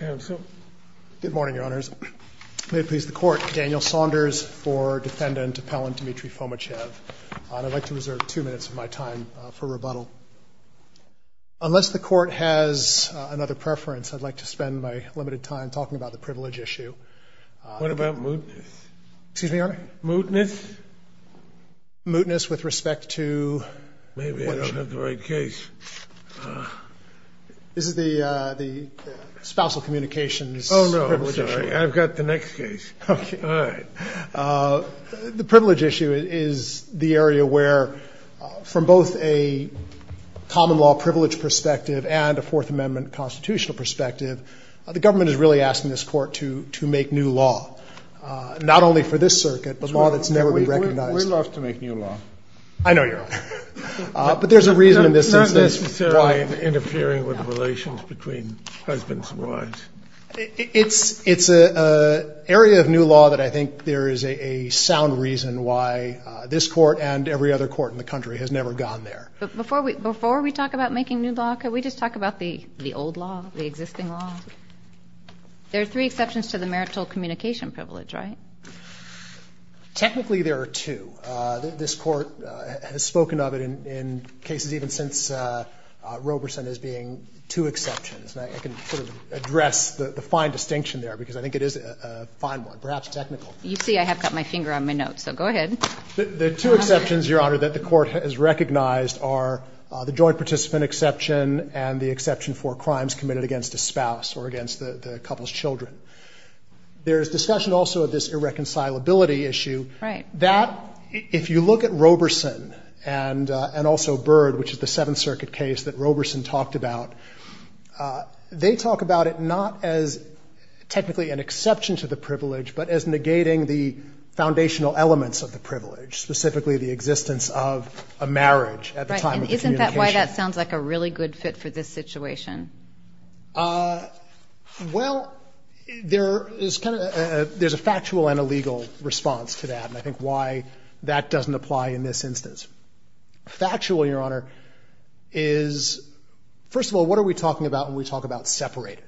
Good morning, Your Honors. May it please the Court, Daniel Saunders for Defendant Appellant Dmitry Fomichev. I'd like to reserve two minutes of my time for rebuttal. Unless the Court has another preference, I'd like to spend my limited time talking about the privilege issue. What about mootness? Excuse me, Your Honor? Mootness? Mootness with respect to... Maybe I don't have the right case. This is the spousal communications privilege issue. Oh, no, I'm sorry. I've got the next case. Okay. All right. The privilege issue is the area where, from both a common law privilege perspective and a Fourth Amendment constitutional perspective, the government is really asking this Court to make new law. Not only for this circuit, but law that's never been recognized. We love to make new law. I know, Your Honor. But there's a reason in this instance. Not necessarily interfering with relations between husbands and wives. It's an area of new law that I think there is a sound reason why this Court and every other court in the country has never gone there. Before we talk about making new law, can we just talk about the old law, the existing law? There are three exceptions to the marital communication privilege, right? Technically, there are two. This Court has spoken of it in cases even since Roberson as being two exceptions. I can sort of address the fine distinction there because I think it is a fine one, perhaps technical. You see I have got my finger on my notes, so go ahead. The two exceptions, Your Honor, that the Court has recognized are the joint participant exception and the exception for crimes committed against a spouse or against the couple's children. There is discussion also of this irreconcilability issue. Right. That, if you look at Roberson and also Byrd, which is the Seventh Circuit case that Roberson talked about, they talk about it not as technically an exception to the privilege, but as negating the foundational elements of the privilege, specifically the existence of a marriage at the time of the communication. Right. And isn't that why that sounds like a really good fit for this situation? Well, there is kind of a factual and a legal response to that, and I think why that doesn't apply in this instance. Factual, Your Honor, is first of all, what are we talking about when we talk about separated?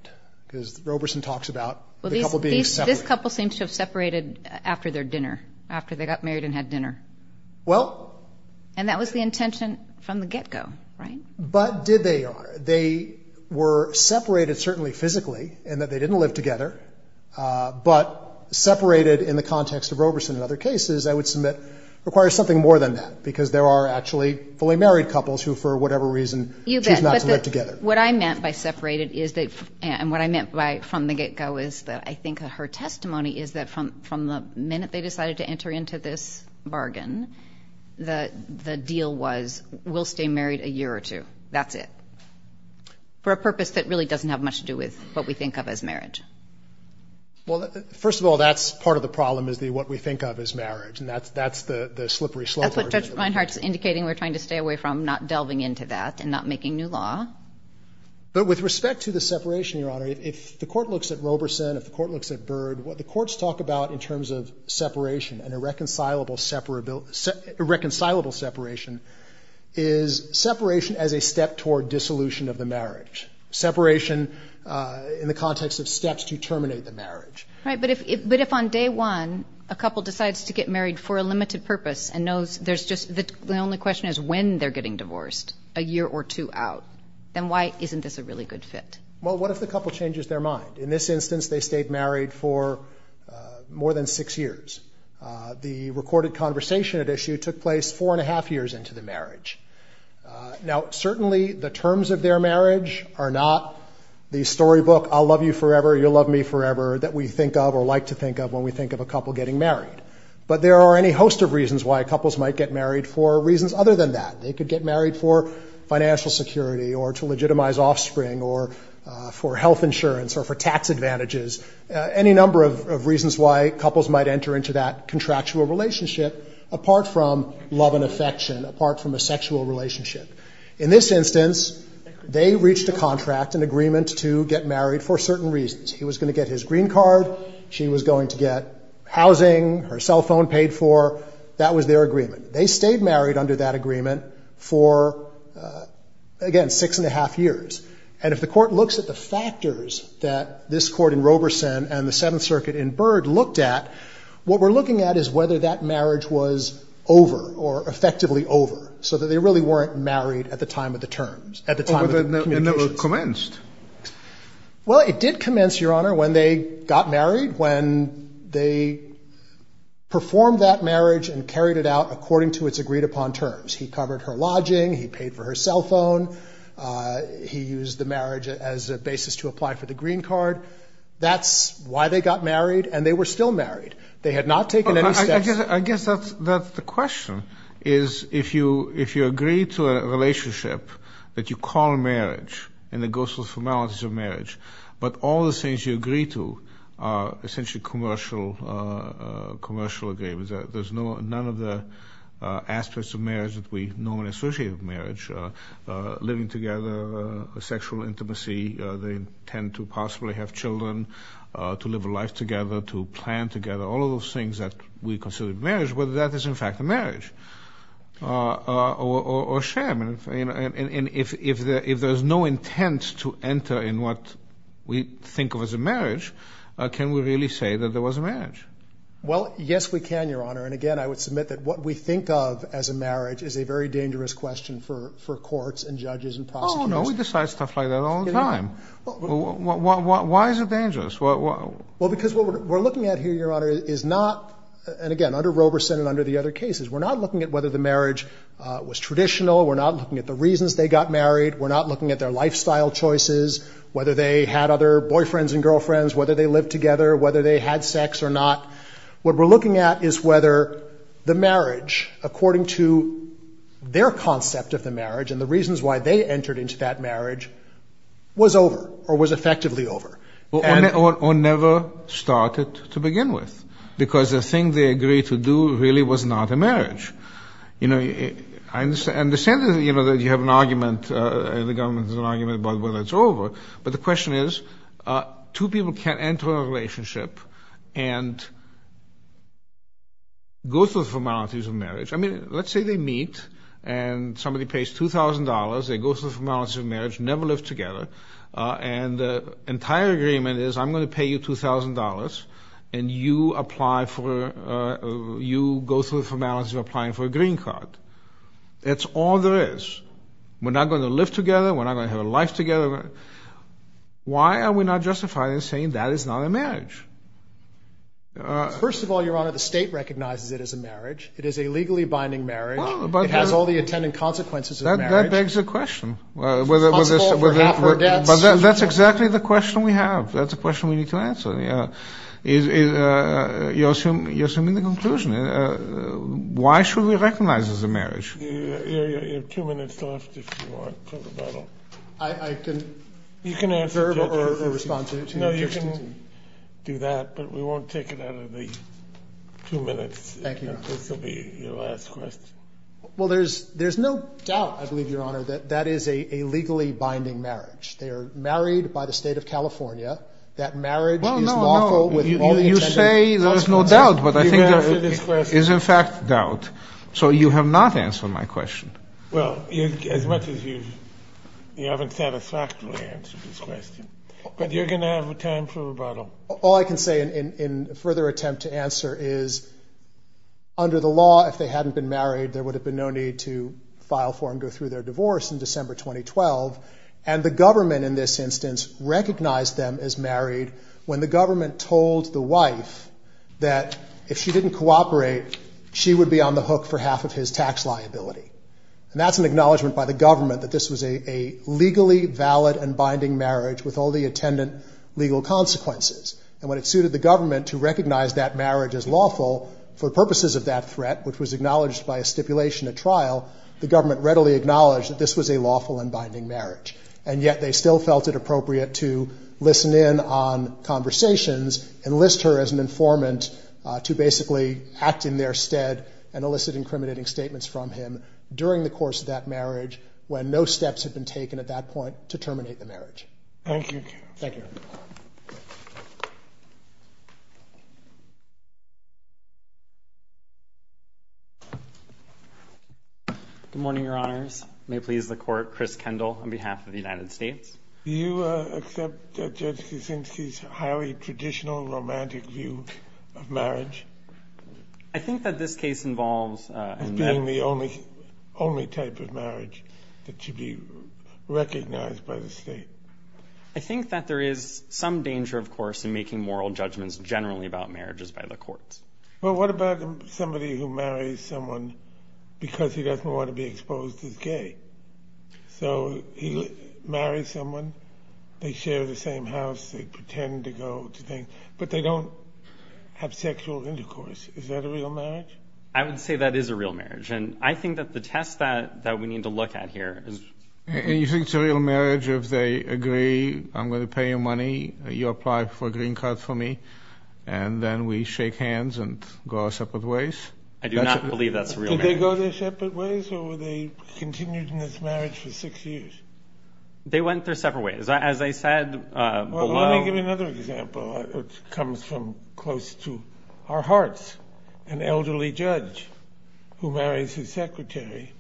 Because Roberson talks about the couple being separated. Well, this couple seems to have separated after their dinner, after they got married and had dinner. Well. And that was the intention from the get-go, right? But did they, Your Honor? They were separated, certainly physically, in that they didn't live together, but separated in the context of Roberson and other cases, I would submit, requires something more than that, because there are actually fully married couples who, for whatever reason, choose not to live together. You bet. What I meant by separated is that, and what I meant by from the get-go is that, I think her testimony is that from the minute they decided to enter into this bargain, the deal was, we'll stay married a year or two. That's it. For a purpose that really doesn't have much to do with what we think of as marriage. Well, first of all, that's part of the problem, is what we think of as marriage, and that's the slippery slope. That's what Judge Reinhart's indicating. We're trying to stay away from not delving into that and not making new law. But with respect to the separation, Your Honor, if the Court looks at Roberson, if the Court looks at Byrd, what the courts talk about in terms of separation and irreconcilable separation is separation as a step toward dissolution of the marriage, separation in the context of steps to terminate the marriage. Right. But if on day one a couple decides to get married for a limited purpose and knows there's just the only question is when they're getting divorced a year or two out, then why isn't this a really good fit? Well, what if the couple changes their mind? In this instance, they stayed married for more than six years. The recorded conversation at issue took place four and a half years into the marriage. Now, certainly the terms of their marriage are not the storybook, I'll love you forever, you'll love me forever, that we think of or like to think of when we think of a couple getting married. But there are any host of reasons why couples might get married for reasons other than that. They could get married for financial security or to legitimize offspring or for health insurance or for tax advantages. Any number of reasons why couples might enter into that contractual relationship apart from love and affection, apart from a sexual relationship. In this instance, they reached a contract, an agreement to get married for certain reasons. He was going to get his green card. She was going to get housing. Her cell phone paid for. That was their agreement. They stayed married under that agreement for, again, six and a half years. And if the court looks at the factors that this court in Roberson and the Seventh Circuit in Byrd looked at, what we're looking at is whether that marriage was over or effectively over so that they really weren't married at the time of the terms, at the time of the communications. Well, it never commenced. Well, it did commence, Your Honor, when they got married, when they performed that marriage and carried it out according to its agreed-upon terms. He covered her lodging. He paid for her cell phone. He used the marriage as a basis to apply for the green card. That's why they got married, and they were still married. They had not taken any steps. I guess that's the question, is if you agree to a relationship that you call marriage and the ghostly formalities of marriage, but all the things you agree to are essentially commercial agreements. There's none of the aspects of marriage that we normally associate with marriage, living together, sexual intimacy, the intent to possibly have children, to live a life together, to plan together, all of those things that we consider marriage, whether that is in fact a marriage or a sham. And if there's no intent to enter in what we think of as a marriage, can we really say that there was a marriage? Well, yes, we can, Your Honor. And, again, I would submit that what we think of as a marriage is a very dangerous question for courts and judges and prosecutors. Oh, no, we decide stuff like that all the time. Why is it dangerous? Well, because what we're looking at here, Your Honor, is not, and, again, under Roberson and under the other cases, we're not looking at whether the marriage was traditional. We're not looking at the reasons they got married. We're not looking at their lifestyle choices, whether they had other boyfriends and girlfriends, whether they lived together, whether they had sex or not. What we're looking at is whether the marriage, according to their concept of the marriage and the reasons why they entered into that marriage, was over or was effectively over. Or never started to begin with, because the thing they agreed to do really was not a marriage. You know, I understand that, you know, that you have an argument, the government has an argument about whether it's over, but the question is two people can't enter a relationship and go through the formalities of marriage. I mean, let's say they meet and somebody pays $2,000. They go through the formalities of marriage, never lived together, and the entire agreement is I'm going to pay you $2,000 and you go through the formalities of applying for a green card. It's all there is. We're not going to live together. We're not going to have a life together. Why are we not justifying and saying that is not a marriage? First of all, Your Honor, the state recognizes it as a marriage. It is a legally binding marriage. It has all the attendant consequences of marriage. That begs the question. Responsible for half her debts. That's exactly the question we have. That's the question we need to answer. You're assuming the conclusion. Why should we recognize it as a marriage? You have two minutes left if you want. I can answer or respond to your questions. No, you can do that, but we won't take it out of the two minutes. Thank you, Your Honor. This will be your last question. Well, there's no doubt, I believe, Your Honor, that that is a legally binding marriage. They are married by the state of California. That marriage is lawful with all the attendant consequences. You say there's no doubt, but I think there is, in fact, doubt. So you have not answered my question. Well, as much as you haven't satisfactorily answered this question. But you're going to have time for rebuttal. All I can say in further attempt to answer is, under the law, if they hadn't been married, there would have been no need to file for and go through their divorce in December 2012. And the government, in this instance, recognized them as married when the government told the wife that if she didn't cooperate, she would be on the hook for half of his tax liability. And that's an acknowledgment by the government that this was a legally valid and binding marriage with all the attendant legal consequences. And when it suited the government to recognize that marriage as lawful for purposes of that threat, which was acknowledged by a stipulation at trial, the government readily acknowledged that this was a lawful and binding marriage. And yet they still felt it appropriate to listen in on conversations, enlist her as an informant to basically act in their stead and elicit incriminating statements from him during the course of that marriage when no steps had been taken at that point to terminate the marriage. Thank you. Thank you. Good morning, Your Honors. May it please the Court, Chris Kendall on behalf of the United States. Do you accept Judge Kuczynski's highly traditional romantic view of marriage? I think that this case involves as being the only type of marriage that should be recognized by the state. I think that there is some danger, of course, in making moral judgments generally about marriages by the courts. Well, what about somebody who marries someone because he doesn't want to be exposed as gay? So he marries someone, they share the same house, they pretend to go to things, but they don't have sexual intercourse. Is that a real marriage? I would say that is a real marriage. And I think that the test that we need to look at here is— And you think it's a real marriage if they agree, I'm going to pay you money, you apply for a green card for me, and then we shake hands and go our separate ways? I do not believe that's a real marriage. Did they go their separate ways or were they continued in this marriage for six years? They went their separate ways. As I said below— Well, let me give you another example. It comes from close to our hearts. An elderly judge who marries his secretary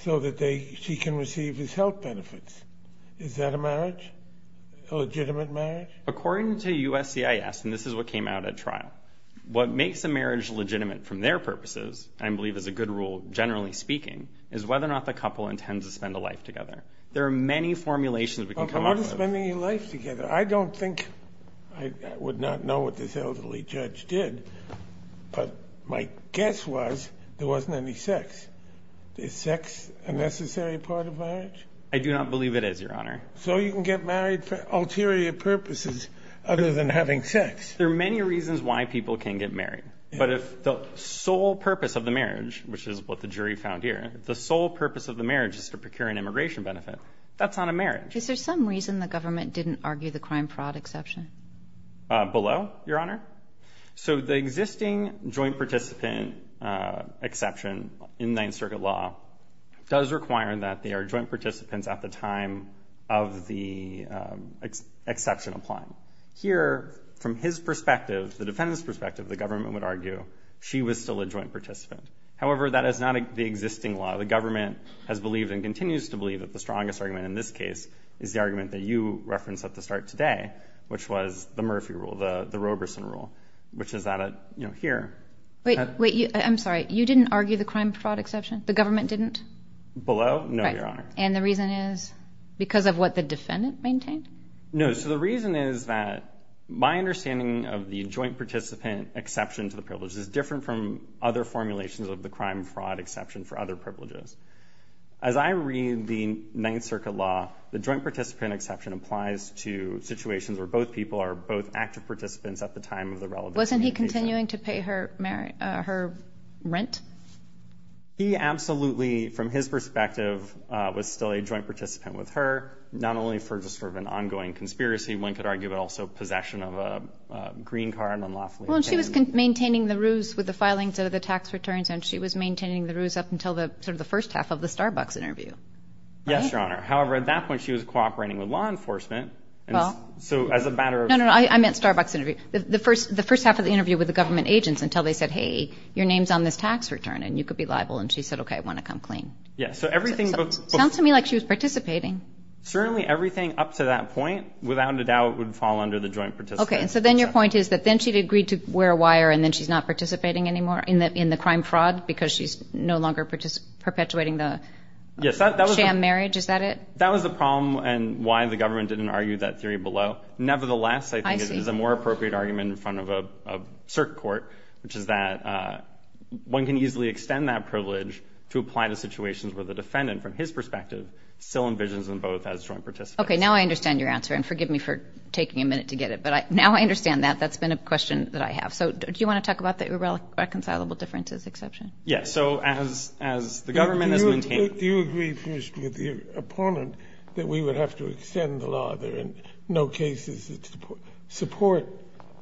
so that she can receive his health benefits. Is that a marriage? A legitimate marriage? According to USCIS, and this is what came out at trial, what makes a marriage legitimate from their purposes, I believe is a good rule, generally speaking, is whether or not the couple intends to spend a life together. There are many formulations we can come up with. I don't think I would not know what this elderly judge did, but my guess was there wasn't any sex. Is sex a necessary part of marriage? I do not believe it is, Your Honor. So you can get married for ulterior purposes other than having sex? There are many reasons why people can get married. But if the sole purpose of the marriage, which is what the jury found here, if the sole purpose of the marriage is to procure an immigration benefit, that's not a marriage. Is there some reason the government didn't argue the crime-fraud exception? Below, Your Honor. So the existing joint-participant exception in Ninth Circuit law does require that they are joint participants at the time of the exception applying. Here, from his perspective, the defendant's perspective, the government would argue she was still a joint participant. However, that is not the existing law. The government has believed and continues to believe that the strongest argument in this case is the argument that you referenced at the start today, which was the Murphy rule, the Roberson rule, which is added here. Wait, I'm sorry. You didn't argue the crime-fraud exception? The government didn't? Below? No, Your Honor. And the reason is because of what the defendant maintained? No, so the reason is that my understanding of the joint-participant exception to the privileges is different from other formulations of the crime-fraud exception for other privileges. As I read the Ninth Circuit law, the joint-participant exception applies to situations where both people are both active participants at the time of the relevance. Wasn't he continuing to pay her rent? He absolutely, from his perspective, was still a joint-participant with her, not only for just sort of an ongoing conspiracy, one could argue, but also possession of a green card unlawfully. Well, and she was maintaining the ruse with the filings of the tax returns, and she was maintaining the ruse up until sort of the first half of the Starbucks interview. Yes, Your Honor. However, at that point, she was cooperating with law enforcement. Well... So as a matter of... No, no, no, I meant Starbucks interview. The first half of the interview with the government agents until they said, hey, your name's on this tax return, and you could be liable. And she said, okay, I want to come clean. Yeah, so everything... Sounds to me like she was participating. Certainly everything up to that point, without a doubt, would fall under the joint-participant exception. Okay, so then your point is that then she'd agreed to wear a wire and then she's not participating anymore in the crime-fraud because she's no longer perpetuating the sham marriage, is that it? That was the problem and why the government didn't argue that theory below. Nevertheless, I think it is a more appropriate argument in front of a circuit court, which is that one can easily extend that privilege to apply to situations where the defendant, from his perspective, still envisions them both as joint participants. Okay, now I understand your answer, and forgive me for taking a minute to get it. But now I understand that. That's been a question that I have. So do you want to talk about the irreconcilable differences exception? Yeah, so as the government has maintained... Do you agree, first, with your opponent that we would have to extend the law? There are no cases that support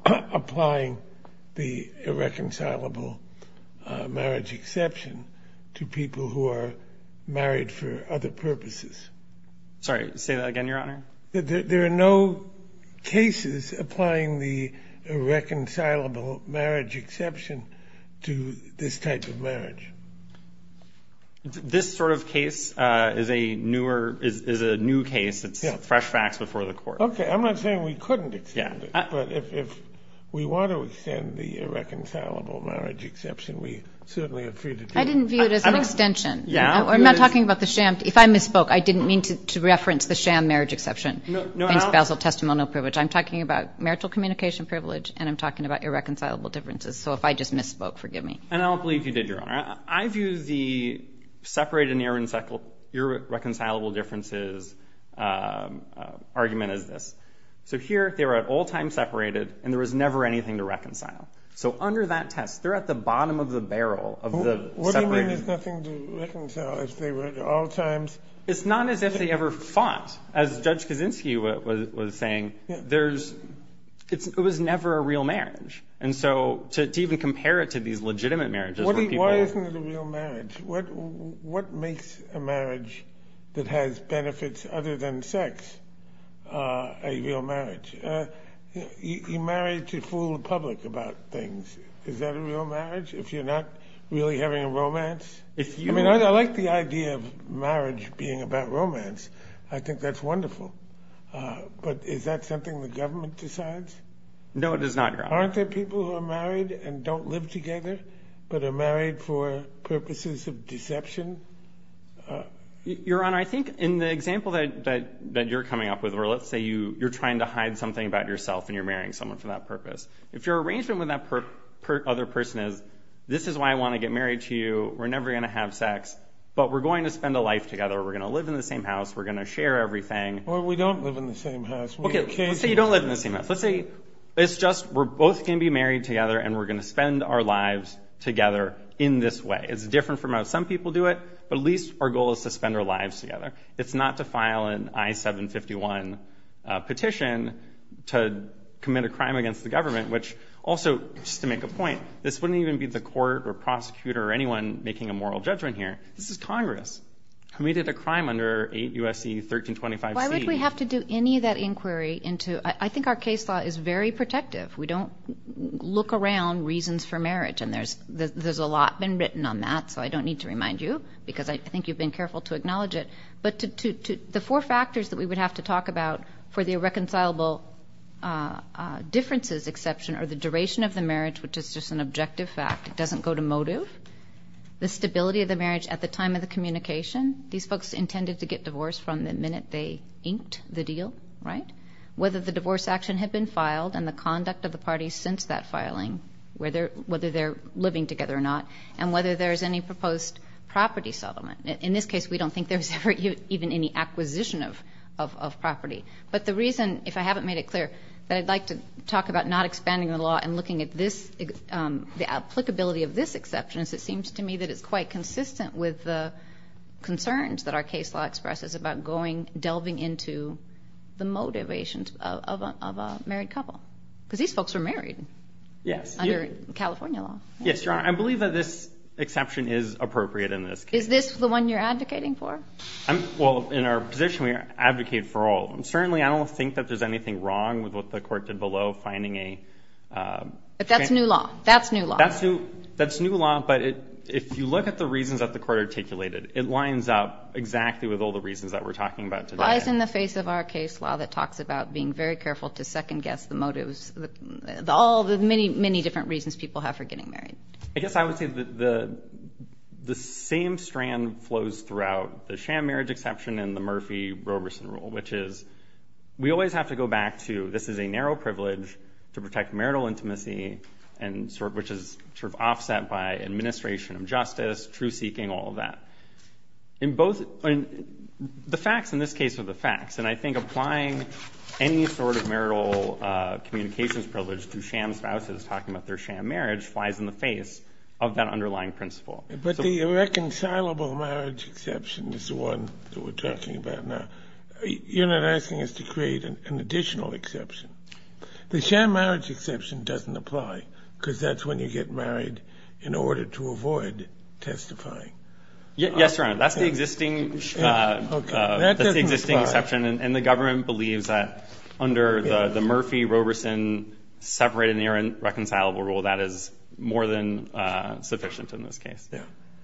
applying the irreconcilable marriage exception to people who are married for other purposes. Sorry, say that again, Your Honor. There are no cases applying the irreconcilable marriage exception to this type of marriage. This sort of case is a newer... is a new case. It's fresh facts before the court. Okay, I'm not saying we couldn't extend it. But if we want to extend the irreconcilable marriage exception, we certainly are free to do it. I didn't view it as an extension. I'm not talking about the sham. If I misspoke, I didn't mean to reference the sham marriage exception and spousal testimonial privilege. I'm talking about marital communication privilege, and I'm talking about irreconcilable differences. So if I just misspoke, forgive me. And I don't believe you did, Your Honor. I view the separated and irreconcilable differences argument as this. So here, they were at all times separated, and there was never anything to reconcile. So under that test, they're at the bottom of the barrel of the separated... What do you mean there's nothing to reconcile if they were at all times... It's not as if they ever fought. As Judge Kaczynski was saying, there's... it was never a real marriage. And so to even compare it to these legitimate marriages... Why isn't it a real marriage? What makes a marriage that has benefits other than sex a real marriage? You marry to fool the public about things. Is that a real marriage, if you're not really having a romance? I mean, I like the idea of marriage being about romance. I think that's wonderful. But is that something the government decides? No, it is not, Your Honor. Aren't there people who are married and don't live together, but are married for purposes of deception? Your Honor, I think in the example that you're coming up with, where let's say you're trying to hide something about yourself and you're marrying someone for that purpose, if your arrangement with that other person is, this is why I want to get married to you, we're never going to have sex, but we're going to spend a life together, we're going to live in the same house, we're going to share everything... Or we don't live in the same house. Okay, let's say you don't live in the same house. Let's say it's just we're both going to be married together and we're going to spend our lives together in this way. It's different from how some people do it, but at least our goal is to spend our lives together. It's not to file an I-751 petition to commit a crime against the government, which also, just to make a point, this wouldn't even be the court or prosecutor or anyone making a moral judgment here. This is Congress, who committed a crime under 8 U.S.C. 1325C. Why would we have to do any of that inquiry into... I think our case law is very protective. We don't look around reasons for marriage, and there's a lot been written on that, so I don't need to remind you, because I think you've been careful to acknowledge it. But the four factors that we would have to talk about for the irreconcilable differences exception are the duration of the marriage, which is just an objective fact. It doesn't go to motive. The stability of the marriage at the time of the communication. These folks intended to get divorced from the minute they inked the deal, right? Whether the divorce action had been filed and the conduct of the parties since that filing, whether they're living together or not, and whether there's any proposed property settlement. In this case, we don't think there's ever even any acquisition of property. But the reason, if I haven't made it clear, that I'd like to talk about not expanding the law and looking at the applicability of this exception is it seems to me that it's quite consistent with the concerns that our case law expresses about delving into the motivations of a married couple. Because these folks were married under California law. Yes, Your Honor. I believe that this exception is appropriate in this case. Is this the one you're advocating for? Well, in our position, we advocate for all. Certainly, I don't think that there's anything wrong with what the court did below finding a... But that's new law. That's new law. That's new law, but if you look at the reasons that the court articulated, it lines up exactly with all the reasons that we're talking about today. It lies in the face of our case law that talks about being very careful to second-guess the motives, all the many, many different reasons people have for getting married. I guess I would say the same strand flows throughout the sham marriage exception and the Murphy-Robertson rule, which is we always have to go back to this is a narrow privilege to protect marital intimacy, which is sort of offset by administration of justice, true seeking, all of that. The facts in this case are the facts, and I think applying any sort of marital communications privilege to sham spouses talking about their sham marriage flies in the face of that underlying principle. But the irreconcilable marriage exception is the one that we're talking about now. You're not asking us to create an additional exception. The sham marriage exception doesn't apply because that's when you get married in order to avoid testifying. Yes, Your Honor, that's the existing exception, and the government believes that under the Murphy-Robertson separate and irreconcilable rule, that is more than sufficient in this case.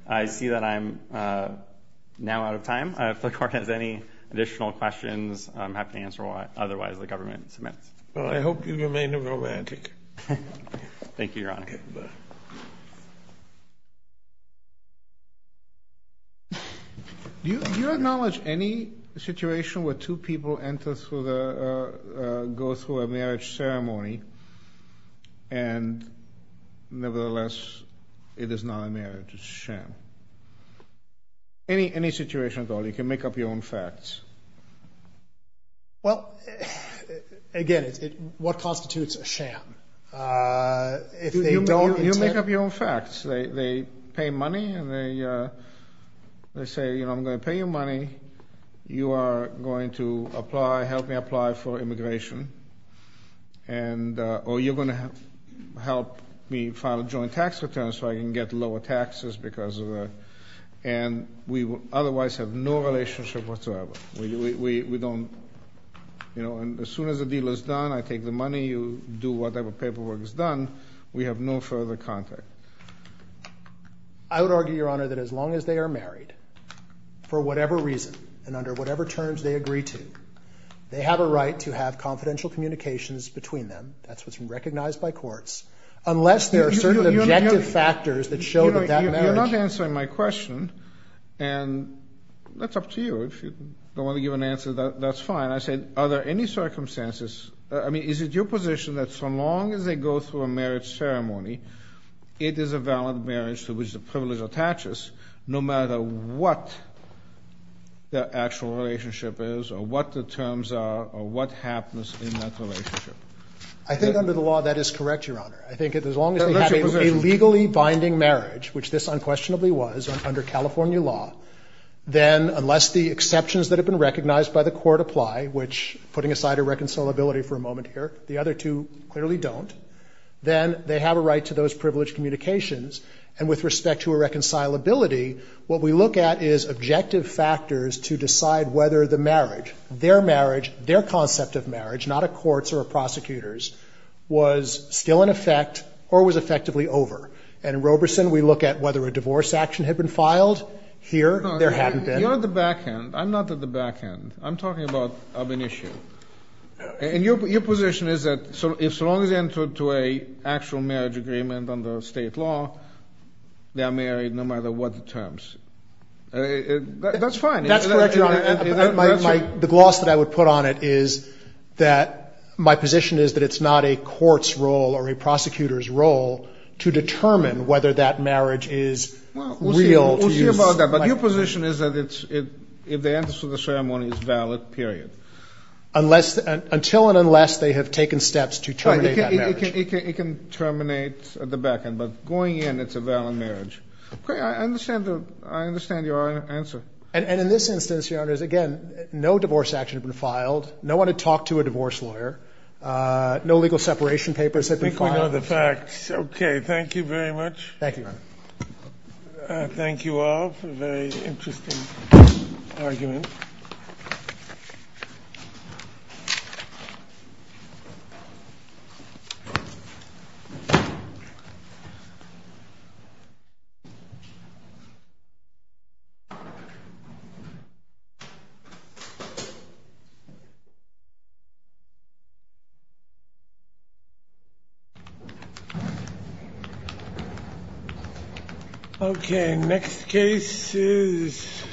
I see that I'm now out of time. If the Court has any additional questions, I'm happy to answer otherwise the government submits. Well, I hope you remain romantic. Thank you, Your Honor. Okay. Do you acknowledge any situation where two people go through a marriage ceremony and nevertheless it is not a marriage, it's a sham? Any situation at all. You can make up your own facts. Well, again, what constitutes a sham? If they don't... You make up your own facts. They pay money and they say, you know, I'm going to pay you money, you are going to apply, help me apply for immigration, or you're going to help me file a joint tax return so I can get lower taxes because of that, and we would otherwise have no relationship whatsoever. We don't, you know, and as soon as the deal is done, I take the money, you do whatever paperwork is done, we have no further contact. I would argue, Your Honor, that as long as they are married, for whatever reason and under whatever terms they agree to, they have a right to have confidential communications between them, that's what's recognized by courts, unless there are certain objective factors that show that that marriage... You're not answering my question, and that's up to you. If you don't want to give an answer, that's fine. And I said, are there any circumstances, I mean, is it your position that so long as they go through a marriage ceremony, it is a valid marriage to which the privilege attaches, no matter what their actual relationship is or what the terms are or what happens in that relationship? I think under the law that is correct, Your Honor. I think as long as they have a legally binding marriage, which this unquestionably was under California law, then unless the exceptions that have been recognized by the court apply, which, putting aside irreconcilability for a moment here, the other two clearly don't, then they have a right to those privileged communications. And with respect to irreconcilability, what we look at is objective factors to decide whether the marriage, their marriage, their concept of marriage, not a court's or a prosecutor's, was still in effect or was effectively over. And in Roberson, we look at whether a divorce action had been filed. Here, there hadn't been. You're at the back end. I'm not at the back end. I'm talking about an issue. And your position is that if someone is entered to an actual marriage agreement under state law, they are married no matter what the terms. That's fine. That's correct, Your Honor. The gloss that I would put on it is that my position is that it's not a court's role or a prosecutor's role to determine whether that marriage is real. We'll see about that. But your position is that if the entrance to the ceremony is valid, period. Until and unless they have taken steps to terminate that marriage. Right. It can terminate at the back end. But going in, it's a valid marriage. I understand your answer. And in this instance, Your Honor, again, no divorce action had been filed. No one had talked to a divorce lawyer. I think we know the facts. Okay. Thank you very much. Thank you, Your Honor. Thank you all for a very interesting argument. Okay. Next case is...